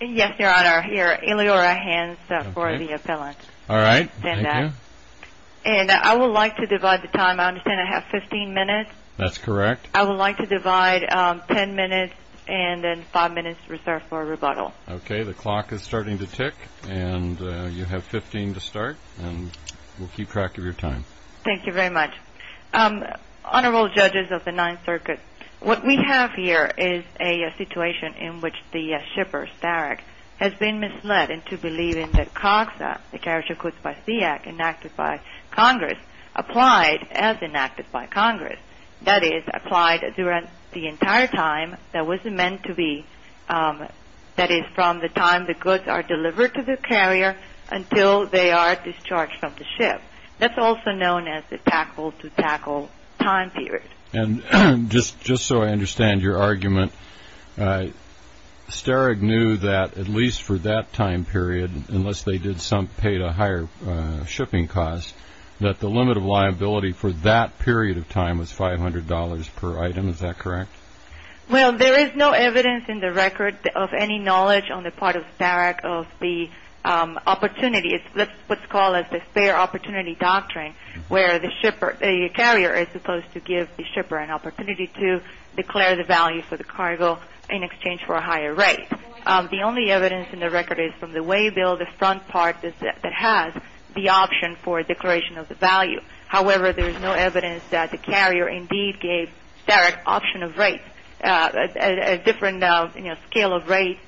Yes, Your Honor. Here are Eleora's hands for the appellant. All right. Thank you. And I would like to divide the time. I understand I have 15 minutes? That's correct. I would like to divide 10 minutes and then 5 minutes reserved for rebuttal. Okay. The clock is starting to tick and you have 15 to start and we'll keep track of your time. Thank you very much. Honorable Judges of the Ninth Circuit, what we have here is a situation in which the shipper, Starrag, has been misled into believing that COGSA, the Carriage of Goods by Sea Act, enacted by Congress, applied as enacted by Congress, that is, applied during the entire time that was meant to be, that is, from the time the goods are delivered to the carrier until they are discharged from the ship. That's also known as the tackle-to-tackle time period. And just so I understand your argument, Starrag knew that at least for that time period, unless they did pay a higher shipping cost, that the limit of liability for that period of time was $500 per item. Is that correct? Well, there is no evidence in the record of any knowledge on the part of Starrag of the opportunity. It's what's called the spare opportunity doctrine where the carrier is supposed to give the shipper an opportunity to declare the value for the cargo in exchange for a higher rate. The only evidence in the record is from the waybill, the front part that has the option for declaration of the value. However, there is no evidence that the carrier indeed gave Starrag option of rate, a different scale of rate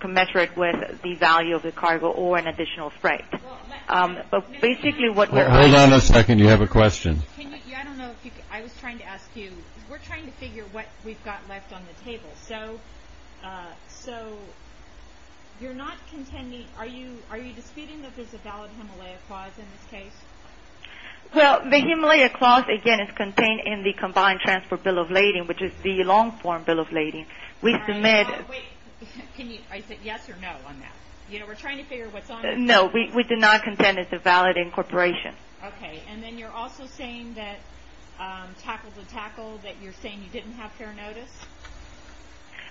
commensurate with the value of the cargo or an additional freight. Hold on a second. You have a question. I was trying to ask you, we're trying to figure what we've got left on the table. So you're not contending, are you disputing that there's a valid Himalaya clause in this case? Well, the Himalaya clause, again, is contained in the Combined Transport Bill of Lading, which is the long-form bill of lading. We submit... Can you, I said yes or no on that? You know, we're trying to figure what's on the table. No, we do not contend it's a valid incorporation. Okay, and then you're also saying that tackle to tackle, that you're saying you didn't have fair notice?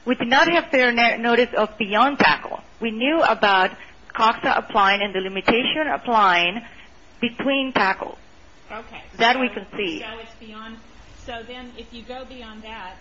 We do not have fair notice of beyond tackle. We knew about COXA applying and the limitation applying between tackle. Okay. That we can see. So it's beyond, so then if you go beyond that,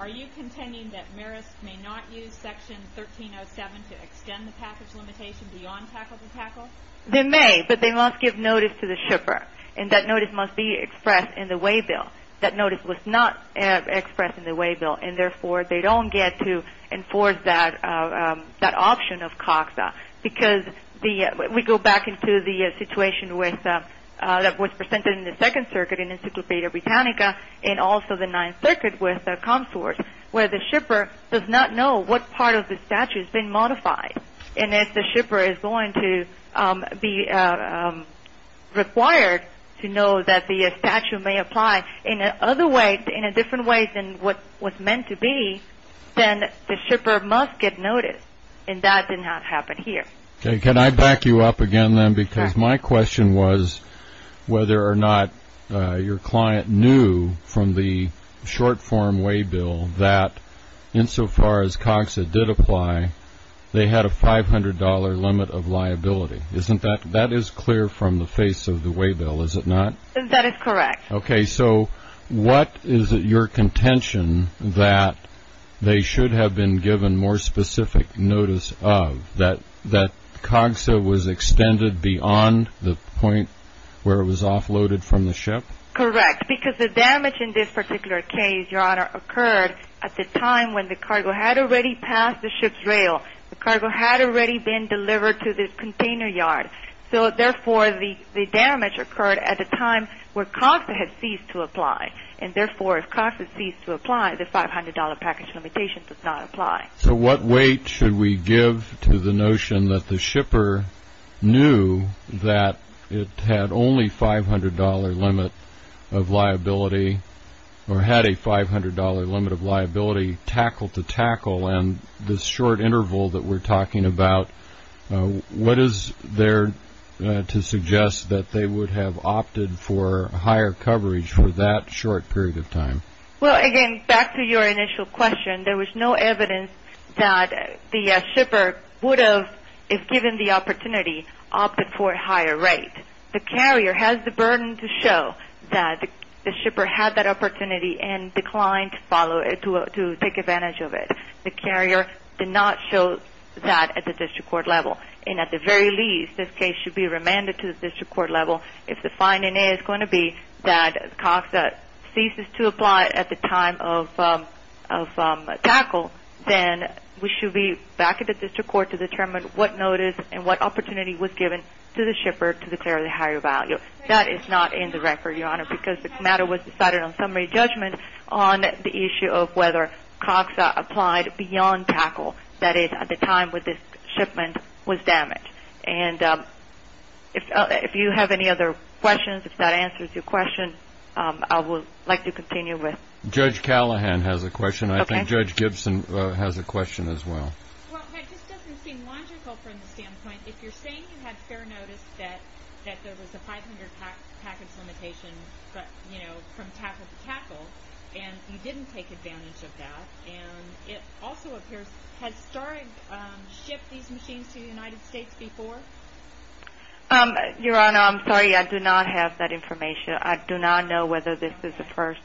are you contending that Marist may not use Section 1307 to extend the package limitation beyond tackle to tackle? They may, but they must give notice to the shipper, and that notice must be expressed in the way bill. That notice was not expressed in the way bill, and therefore, they don't get to enforce that option of COXA, because we go back into the situation that was presented in the Second Circuit in Encyclopedia Britannica and also the Ninth Circuit with ComSort, where the shipper does not know what part of the statute has been modified. And if the shipper is going to be required to know that the statute may apply in a different way than what was meant to be, then the shipper must get notice, and that did not happen here. Okay, can I back you up again then? Because my question was whether or not your client knew from the short-form way bill that insofar as COXA did apply, they had a $500 limit of liability. That is clear from the face of the way bill, is it not? That is correct. Okay, so what is your contention that they should have been given more specific notice of, that COXA was extended beyond the point where it was offloaded from the ship? Correct, because the damage in this particular case, Your Honor, occurred at the time when the cargo had already passed the ship's rail. The cargo had already been delivered to the container yard. So, therefore, the damage occurred at a time where COXA had ceased to apply. And, therefore, if COXA ceased to apply, the $500 package limitation does not apply. So what weight should we give to the notion that the shipper knew that it had only $500 limit of liability or had a $500 limit of liability tackle to tackle, and this short interval that we're talking about, what is there to suggest that they would have opted for higher coverage for that short period of time? Well, again, back to your initial question. There was no evidence that the shipper would have, if given the opportunity, opted for a higher rate. The carrier has the burden to show that the shipper had that opportunity and declined to take advantage of it. The carrier did not show that at the district court level. And, at the very least, this case should be remanded to the district court level if the finding is going to be that COXA ceases to apply at the time of tackle, then we should be back at the district court to determine what notice and what opportunity was given to the shipper to declare the higher value. That is not in the record, Your Honor, because this matter was decided on summary judgment on the issue of whether COXA applied beyond tackle, that is, at the time when this shipment was damaged. And if you have any other questions, if that answers your question, I would like to continue with. Judge Callahan has a question. I think Judge Gibson has a question as well. Well, that just doesn't seem logical from the standpoint, if you're saying you had fair notice that there was a 500-package limitation from tackle to tackle and you didn't take advantage of that, and it also appears, has Starig shipped these machines to the United States before? Your Honor, I'm sorry, I do not have that information. I do not know whether this is the first,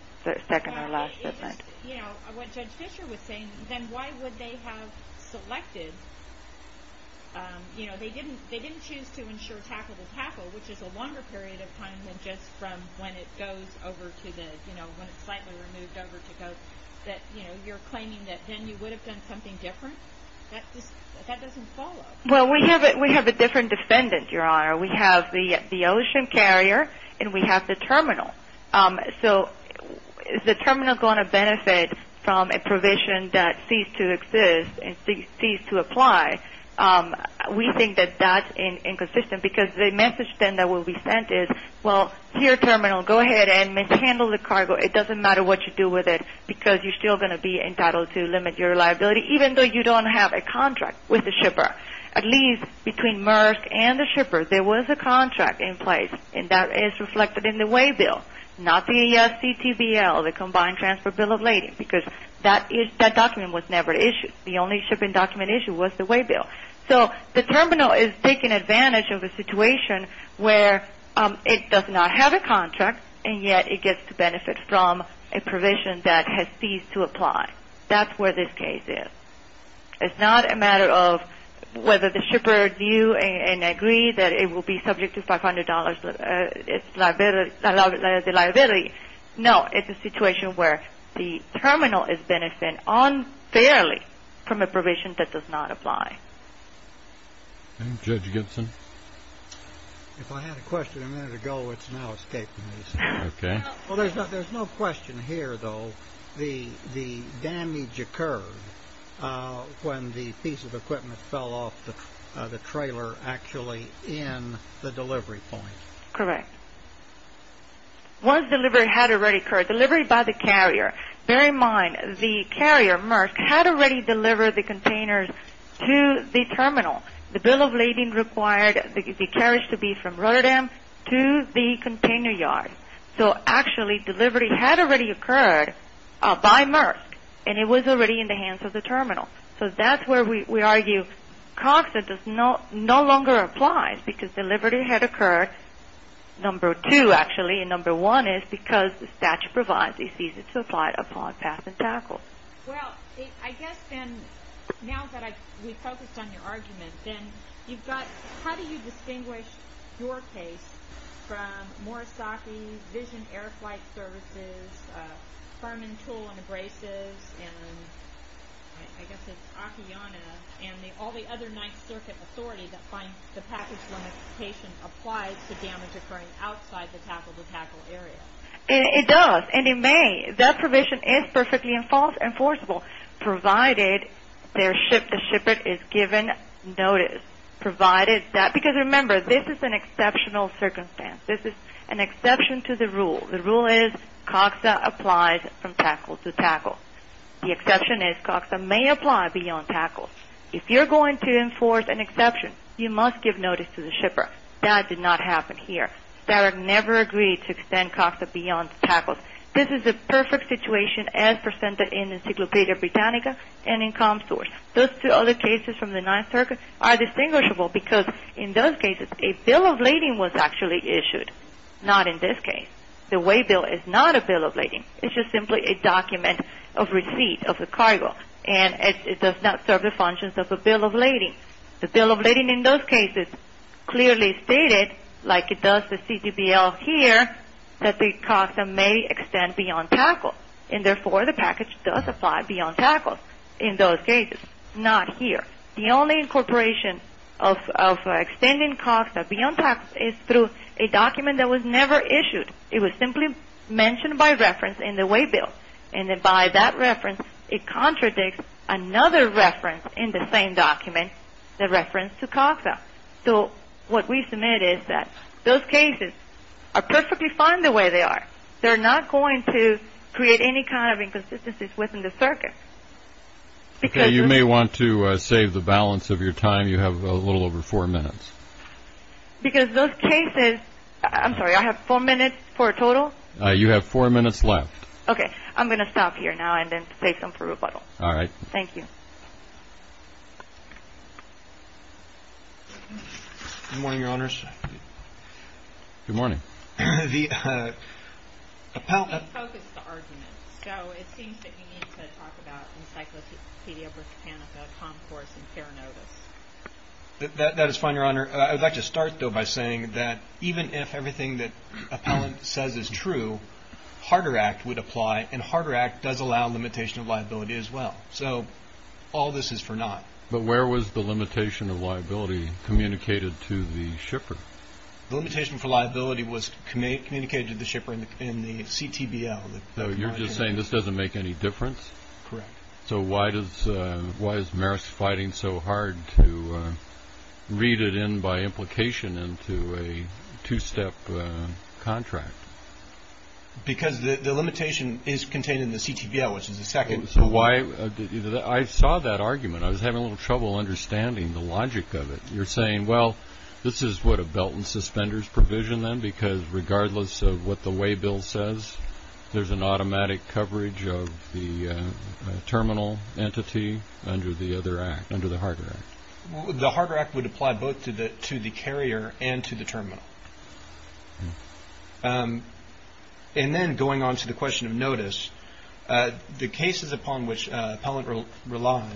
second, or last shipment. You know, what Judge Fischer was saying, then why would they have selected, you know, they didn't choose to ensure tackle to tackle, which is a longer period of time than just from when it goes over to the, you know, when it's slightly removed over to COX, that, you know, you're claiming that then you would have done something different? That just, that doesn't follow. Well, we have a different defendant, Your Honor. We have the ocean carrier and we have the terminal. So, is the terminal going to benefit from a provision that ceased to exist and ceased to apply? We think that that's inconsistent because the message then that will be sent is, well, here terminal, go ahead and mishandle the cargo. It doesn't matter what you do with it because you're still going to be entitled to limit your liability, even though you don't have a contract with the shipper. At least between MERS and the shipper, there was a contract in place, and that is reflected in the way bill, not the ASTBL, the Combined Transfer Bill of Lading, because that document was never issued. The only shipping document issued was the way bill. So, the terminal is taking advantage of a situation where it does not have a contract, and yet it gets to benefit from a provision that has ceased to apply. That's where this case is. It's not a matter of whether the shipper knew and agreed that it will be subject to $500 as a liability. No, it's a situation where the terminal is benefiting unfairly from a provision that does not apply. Judge Gibson? If I had a question a minute ago, it's now escaped me. Okay. Well, there's no question here, though. The damage occurred when the piece of equipment fell off the trailer actually in the delivery point. Correct. Once delivery had already occurred, delivery by the carrier. Bear in mind, the carrier, MERS, had already delivered the containers to the terminal. The bill of lading required the carriage to be from Rotterdam to the container yard. So, actually, delivery had already occurred by MERS, and it was already in the hands of the terminal. So that's where we argue COGSA no longer applies because delivery had occurred, number two, actually, and number one is because the statute provides it ceased to apply upon pass and tackle. Well, I guess then, now that we've focused on your argument, then how do you distinguish your case from Morisaki, Vision Air Flight Services, Furman Tool and Braces, and I guess it's Akiyana, and all the other Ninth Circuit authorities that find the package limitation applies to damage occurring outside the tackle-to-tackle area? It does, and it may. That provision is perfectly enforceable, provided the shipper is given notice. Because, remember, this is an exceptional circumstance. This is an exception to the rule. The rule is COGSA applies from tackle-to-tackle. The exception is COGSA may apply beyond tackle. If you're going to enforce an exception, you must give notice to the shipper. That did not happen here. Starek never agreed to extend COGSA beyond tackle. This is the perfect situation as presented in Encyclopedia Britannica and in ComSource. Those two other cases from the Ninth Circuit are distinguishable because, in those cases, a bill of lading was actually issued, not in this case. The way bill is not a bill of lading. It's just simply a document of receipt of the cargo, and it does not serve the functions of a bill of lading. The bill of lading in those cases clearly stated, like it does the CTBL here, that the COGSA may extend beyond tackle. And, therefore, the package does apply beyond tackle in those cases, not here. The only incorporation of extending COGSA beyond tackle is through a document that was never issued. It was simply mentioned by reference in the way bill. And then by that reference, it contradicts another reference in the same document, the reference to COGSA. So what we submit is that those cases are perfectly fine the way they are. They're not going to create any kind of inconsistencies within the circuit. Okay, you may want to save the balance of your time. You have a little over four minutes. Because those cases, I'm sorry, I have four minutes for a total? You have four minutes left. Okay. I'm going to stop here now and then take them for rebuttal. All right. Thank you. Good morning, Your Honors. Good morning. The appellant. You can't focus the argument. So it seems that you need to talk about Encyclopedia Britannica, Comcorse, and Peronotus. That is fine, Your Honor. I would like to start, though, by saying that even if everything that appellant says is true, Harder Act would apply, and Harder Act does allow limitation of liability as well. So all this is for naught. But where was the limitation of liability communicated to the shipper? The limitation for liability was communicated to the shipper in the CTBL. You're just saying this doesn't make any difference? Correct. So why is Meris fighting so hard to read it in by implication into a two-step contract? Because the limitation is contained in the CTBL, which is the second. I saw that argument. I was having a little trouble understanding the logic of it. You're saying, well, this is what a belt and suspenders provision then, because regardless of what the waybill says, there's an automatic coverage of the terminal entity under the Harder Act. The Harder Act would apply both to the carrier and to the terminal. And then going on to the question of notice, the cases upon which appellant relies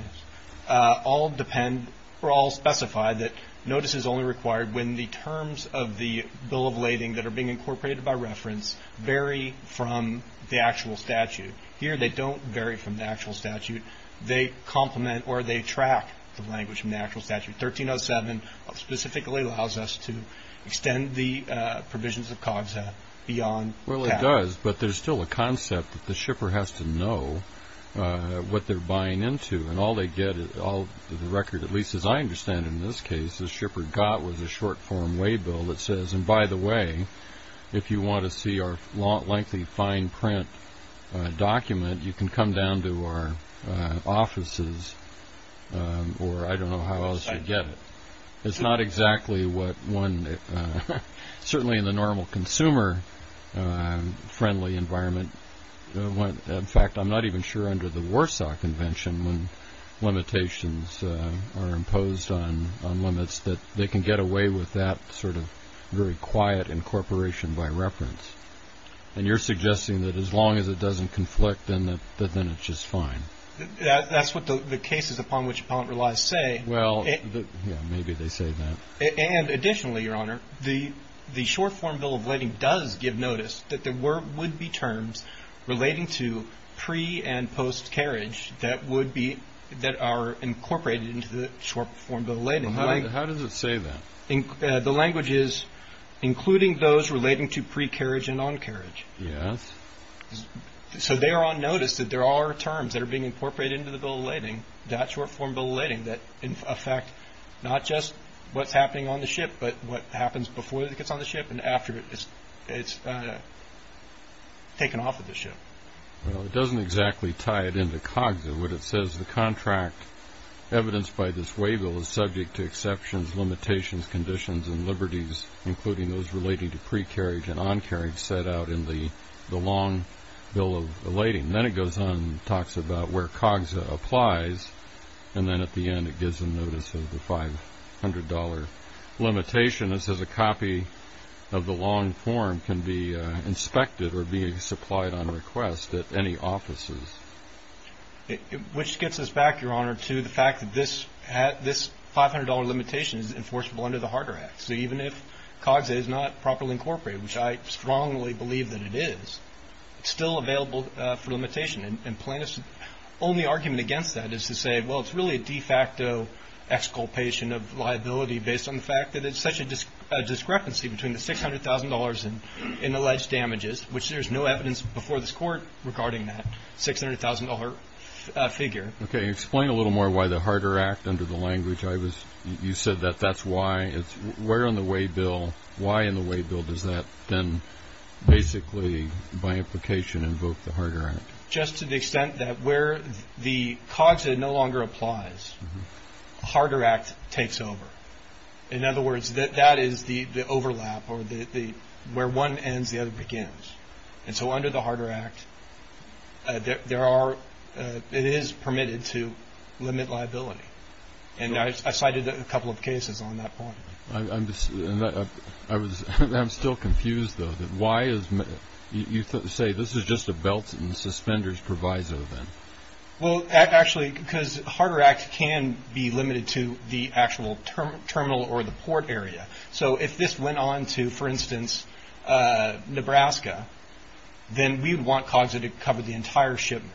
all depend or all specify that notice is only required when the terms of the bill of lading that are being incorporated by reference vary from the actual statute. Here they don't vary from the actual statute. They complement or they track the language from the actual statute. 1307 specifically allows us to extend the provisions of COGSA beyond that. It does, but there's still a concept that the shipper has to know what they're buying into. And all they get is the record, at least as I understand it in this case, the shipper got was a short-form waybill that says, and by the way, if you want to see our lengthy fine print document, you can come down to our offices, or I don't know how else you get it. It's not exactly what one, certainly in the normal consumer friendly environment. In fact, I'm not even sure under the Warsaw Convention when limitations are imposed on limits that they can get away with that sort of very quiet incorporation by reference. And you're suggesting that as long as it doesn't conflict, then it's just fine. That's what the cases upon which appellant relies say. Well, maybe they say that. And additionally, Your Honor, the short-form bill of lading does give notice that there would be terms relating to pre- and post-carriage that are incorporated into the short-form bill of lading. How does it say that? The language is including those relating to pre-carriage and on-carriage. Yes. So they are on notice that there are terms that are being incorporated into the bill of lading, that short-form bill of lading, that affect not just what's happening on the ship but what happens before it gets on the ship and after it's taken off of the ship. Well, it doesn't exactly tie it into COGSA. What it says, the contract evidenced by this waybill is subject to exceptions, limitations, conditions, and liberties including those relating to pre-carriage and on-carriage set out in the long bill of lading. Then it goes on and talks about where COGSA applies, and then at the end it gives them notice of the $500 limitation. This is a copy of the long form can be inspected or be supplied on request at any offices. Which gets us back, Your Honor, to the fact that this $500 limitation is enforceable under the Harder Act. So even if COGSA is not properly incorporated, which I strongly believe that it is, it's still available for limitation. And Plaintiff's only argument against that is to say, well, it's really a de facto exculpation of liability based on the fact that it's such a discrepancy between the $600,000 in alleged damages, which there's no evidence before this Court regarding that $600,000 figure. Okay. Explain a little more why the Harder Act, under the language you said that that's why. Where on the way bill, why in the way bill does that then basically, by implication, invoke the Harder Act? Just to the extent that where the COGSA no longer applies, the Harder Act takes over. In other words, that is the overlap or where one ends, the other begins. And so under the Harder Act, it is permitted to limit liability. And I cited a couple of cases on that point. I'm still confused, though. You say this is just a belt and suspenders proviso then. Well, actually, because the Harder Act can be limited to the actual terminal or the port area. So if this went on to, for instance, Nebraska, then we'd want COGSA to cover the entire shipment.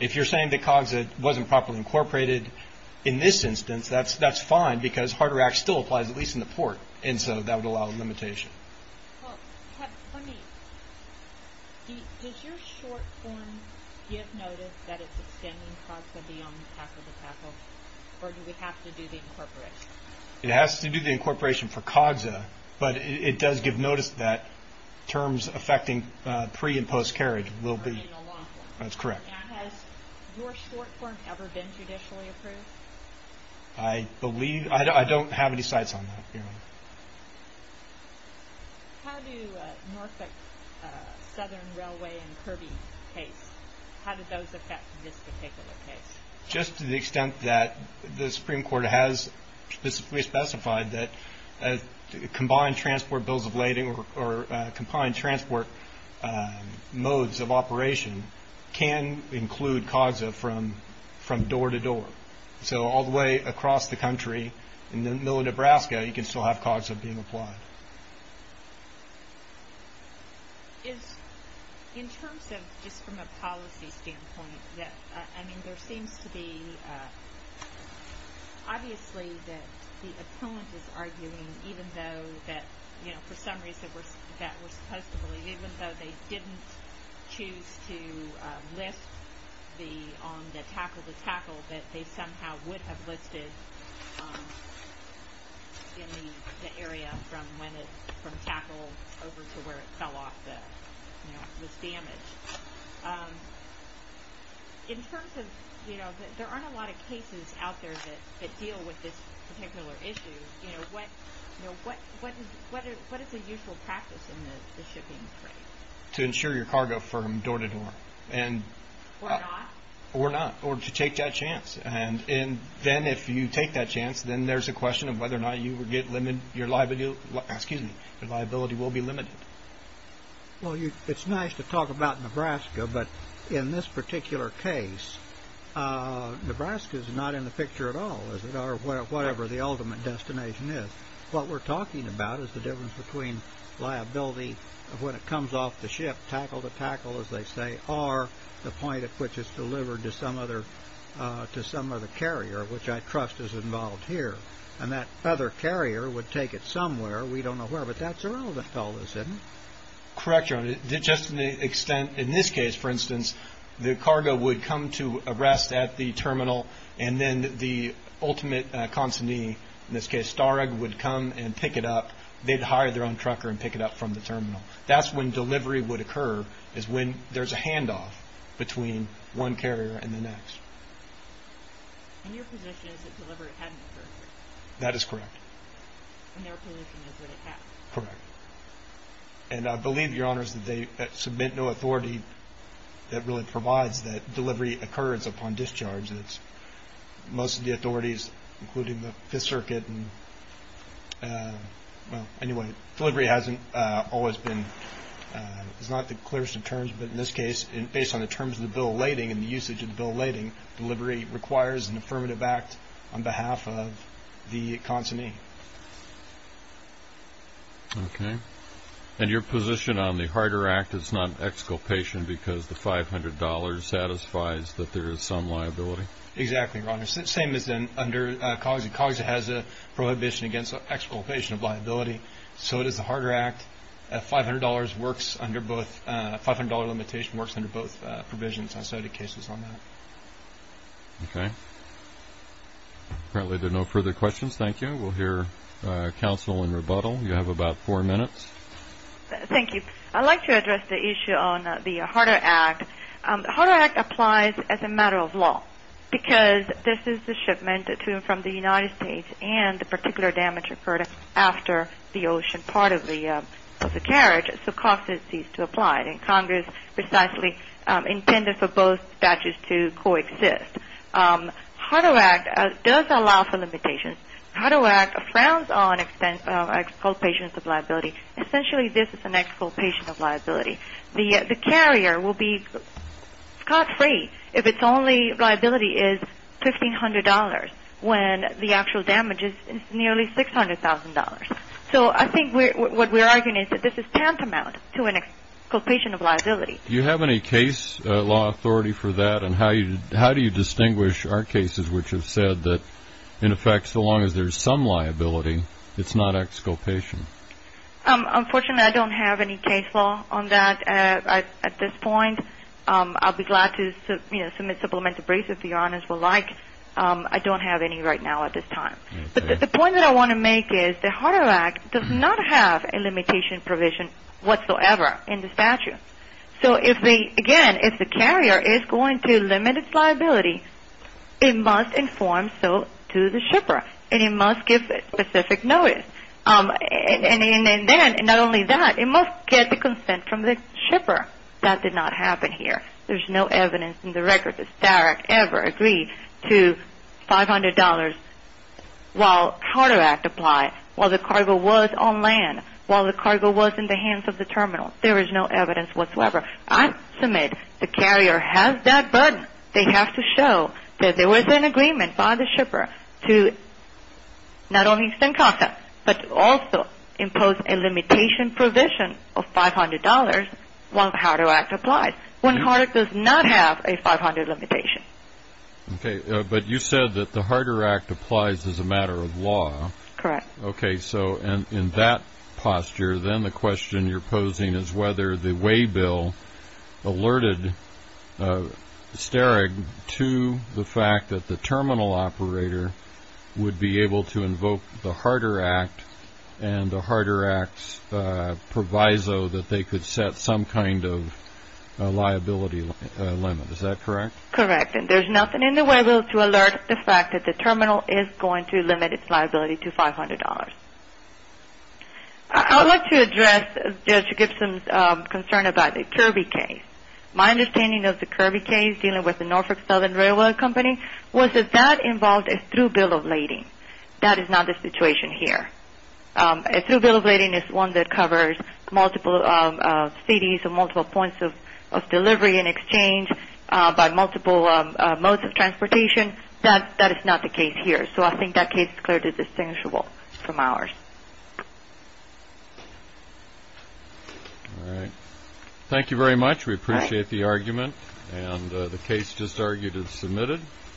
If you're saying that COGSA wasn't properly incorporated in this instance, that's fine, because Harder Act still applies, at least in the port, and so that would allow a limitation. Well, does your short form give notice that it's extending COGSA beyond tackle to tackle? Or do we have to do the incorporation? It has to do the incorporation for COGSA, but it does give notice that terms affecting pre- and post-carriage will be – that's correct. And has your short form ever been judicially approved? I believe – I don't have any sites on that. How do Norfolk Southern Railway and Kirby case – how do those affect this particular case? Just to the extent that the Supreme Court has specifically specified that combined transport bills of lading or combined transport modes of operation can include COGSA from door to door. So all the way across the country, in the middle of Nebraska, you can still have COGSA being applied. In terms of just from a policy standpoint, I mean, there seems to be – obviously that the opponent is arguing even though that, you know, for some reason that we're supposed to believe, even though they didn't choose to list the – on the tackle to tackle, that they somehow would have listed in the area from when it – from tackle over to where it fell off the – you know, was damaged. In terms of – you know, there aren't a lot of cases out there that deal with this particular issue. You know, what is the usual practice in the shipping trade? To insure your cargo from door to door. Or not. Or not. Or to take that chance. And then if you take that chance, then there's a question of whether or not you would get – your liability will be limited. Well, you – it's nice to talk about Nebraska, but in this particular case, Nebraska is not in the picture at all, is it? Or whatever the ultimate destination is. What we're talking about is the difference between liability of when it comes off the ship, tackle to tackle, as they say, or the point at which it's delivered to some other – to some other carrier, which I trust is involved here. And that other carrier would take it somewhere. We don't know where, but that's where all the hell is, isn't it? Correct, John. Just in the extent – in this case, for instance, the cargo would come to a rest at the terminal, and then the ultimate consignee, in this case, Starrag, would come and pick it up. They'd hire their own trucker and pick it up from the terminal. That's when delivery would occur, is when there's a handoff between one carrier and the next. And your position is that delivery hadn't occurred? That is correct. And their position is that it has? Correct. And I believe, Your Honors, that they submit no authority that really provides that delivery occurs upon discharge. Most of the authorities, including the Fifth Circuit – well, anyway, delivery hasn't always been – it's not the clearest of terms, but in this case, based on the terms of the bill of lading and the usage of the bill of lading, delivery requires an affirmative act on behalf of the consignee. Okay. And your position on the Harder Act is not exculpation because the $500 satisfies that there is some liability? Exactly, Your Honors. Same as under COGSI. COGSI has a prohibition against exculpation of liability. So does the Harder Act. A $500 works under both – a $500 limitation works under both provisions. I cited cases on that. Okay. Apparently there are no further questions. Thank you. We'll hear counsel in rebuttal. You have about four minutes. Thank you. I'd like to address the issue on the Harder Act. The Harder Act applies as a matter of law because this is the shipment to from the United States and the particular damage occurred after the ocean part of the carriage, so COGSI ceased to apply. And Congress precisely intended for both statutes to coexist. The Harder Act does allow for limitations. The Harder Act frowns on exculpations of liability. The carrier will be caught free if its only liability is $1,500 when the actual damage is nearly $600,000. So I think what we're arguing is that this is tantamount to an exculpation of liability. Do you have any case law authority for that? And how do you distinguish our cases which have said that, in effect, so long as there's some liability, it's not exculpation? Unfortunately, I don't have any case law on that at this point. I'll be glad to submit supplementary briefs if the audience would like. I don't have any right now at this time. But the point that I want to make is the Harder Act does not have a limitation provision whatsoever in the statute. So, again, if the carrier is going to limit its liability, it must inform so to the shipper, and it must give specific notice. And then, not only that, it must get the consent from the shipper. That did not happen here. There's no evidence in the record that Starrett ever agreed to $500 while Harder Act applied, while the cargo was on land, while the cargo was in the hands of the terminal. There is no evidence whatsoever. I submit the carrier has that burden. However, they have to show that there was an agreement by the shipper to not only send consent, but also impose a limitation provision of $500 while the Harder Act applied, when Harder does not have a $500 limitation. Okay. But you said that the Harder Act applies as a matter of law. Correct. Okay. So, in that posture, then the question you're posing is whether the waybill alerted Starrett to the fact that the terminal operator would be able to invoke the Harder Act and the Harder Act's proviso that they could set some kind of liability limit. Is that correct? Correct. And there's nothing in the waybill to alert the fact that the terminal is going to limit its liability to $500. I would like to address Judge Gibson's concern about the Kirby case. My understanding of the Kirby case, dealing with the Norfolk Southern Railway Company, was that that involved a through bill of lading. That is not the situation here. A through bill of lading is one that covers multiple cities or multiple points of delivery and exchange by multiple modes of transportation. That is not the case here. So I think that case is clearly distinguishable from ours. All right. Thank you very much. We appreciate the argument. And the case just argued is submitted.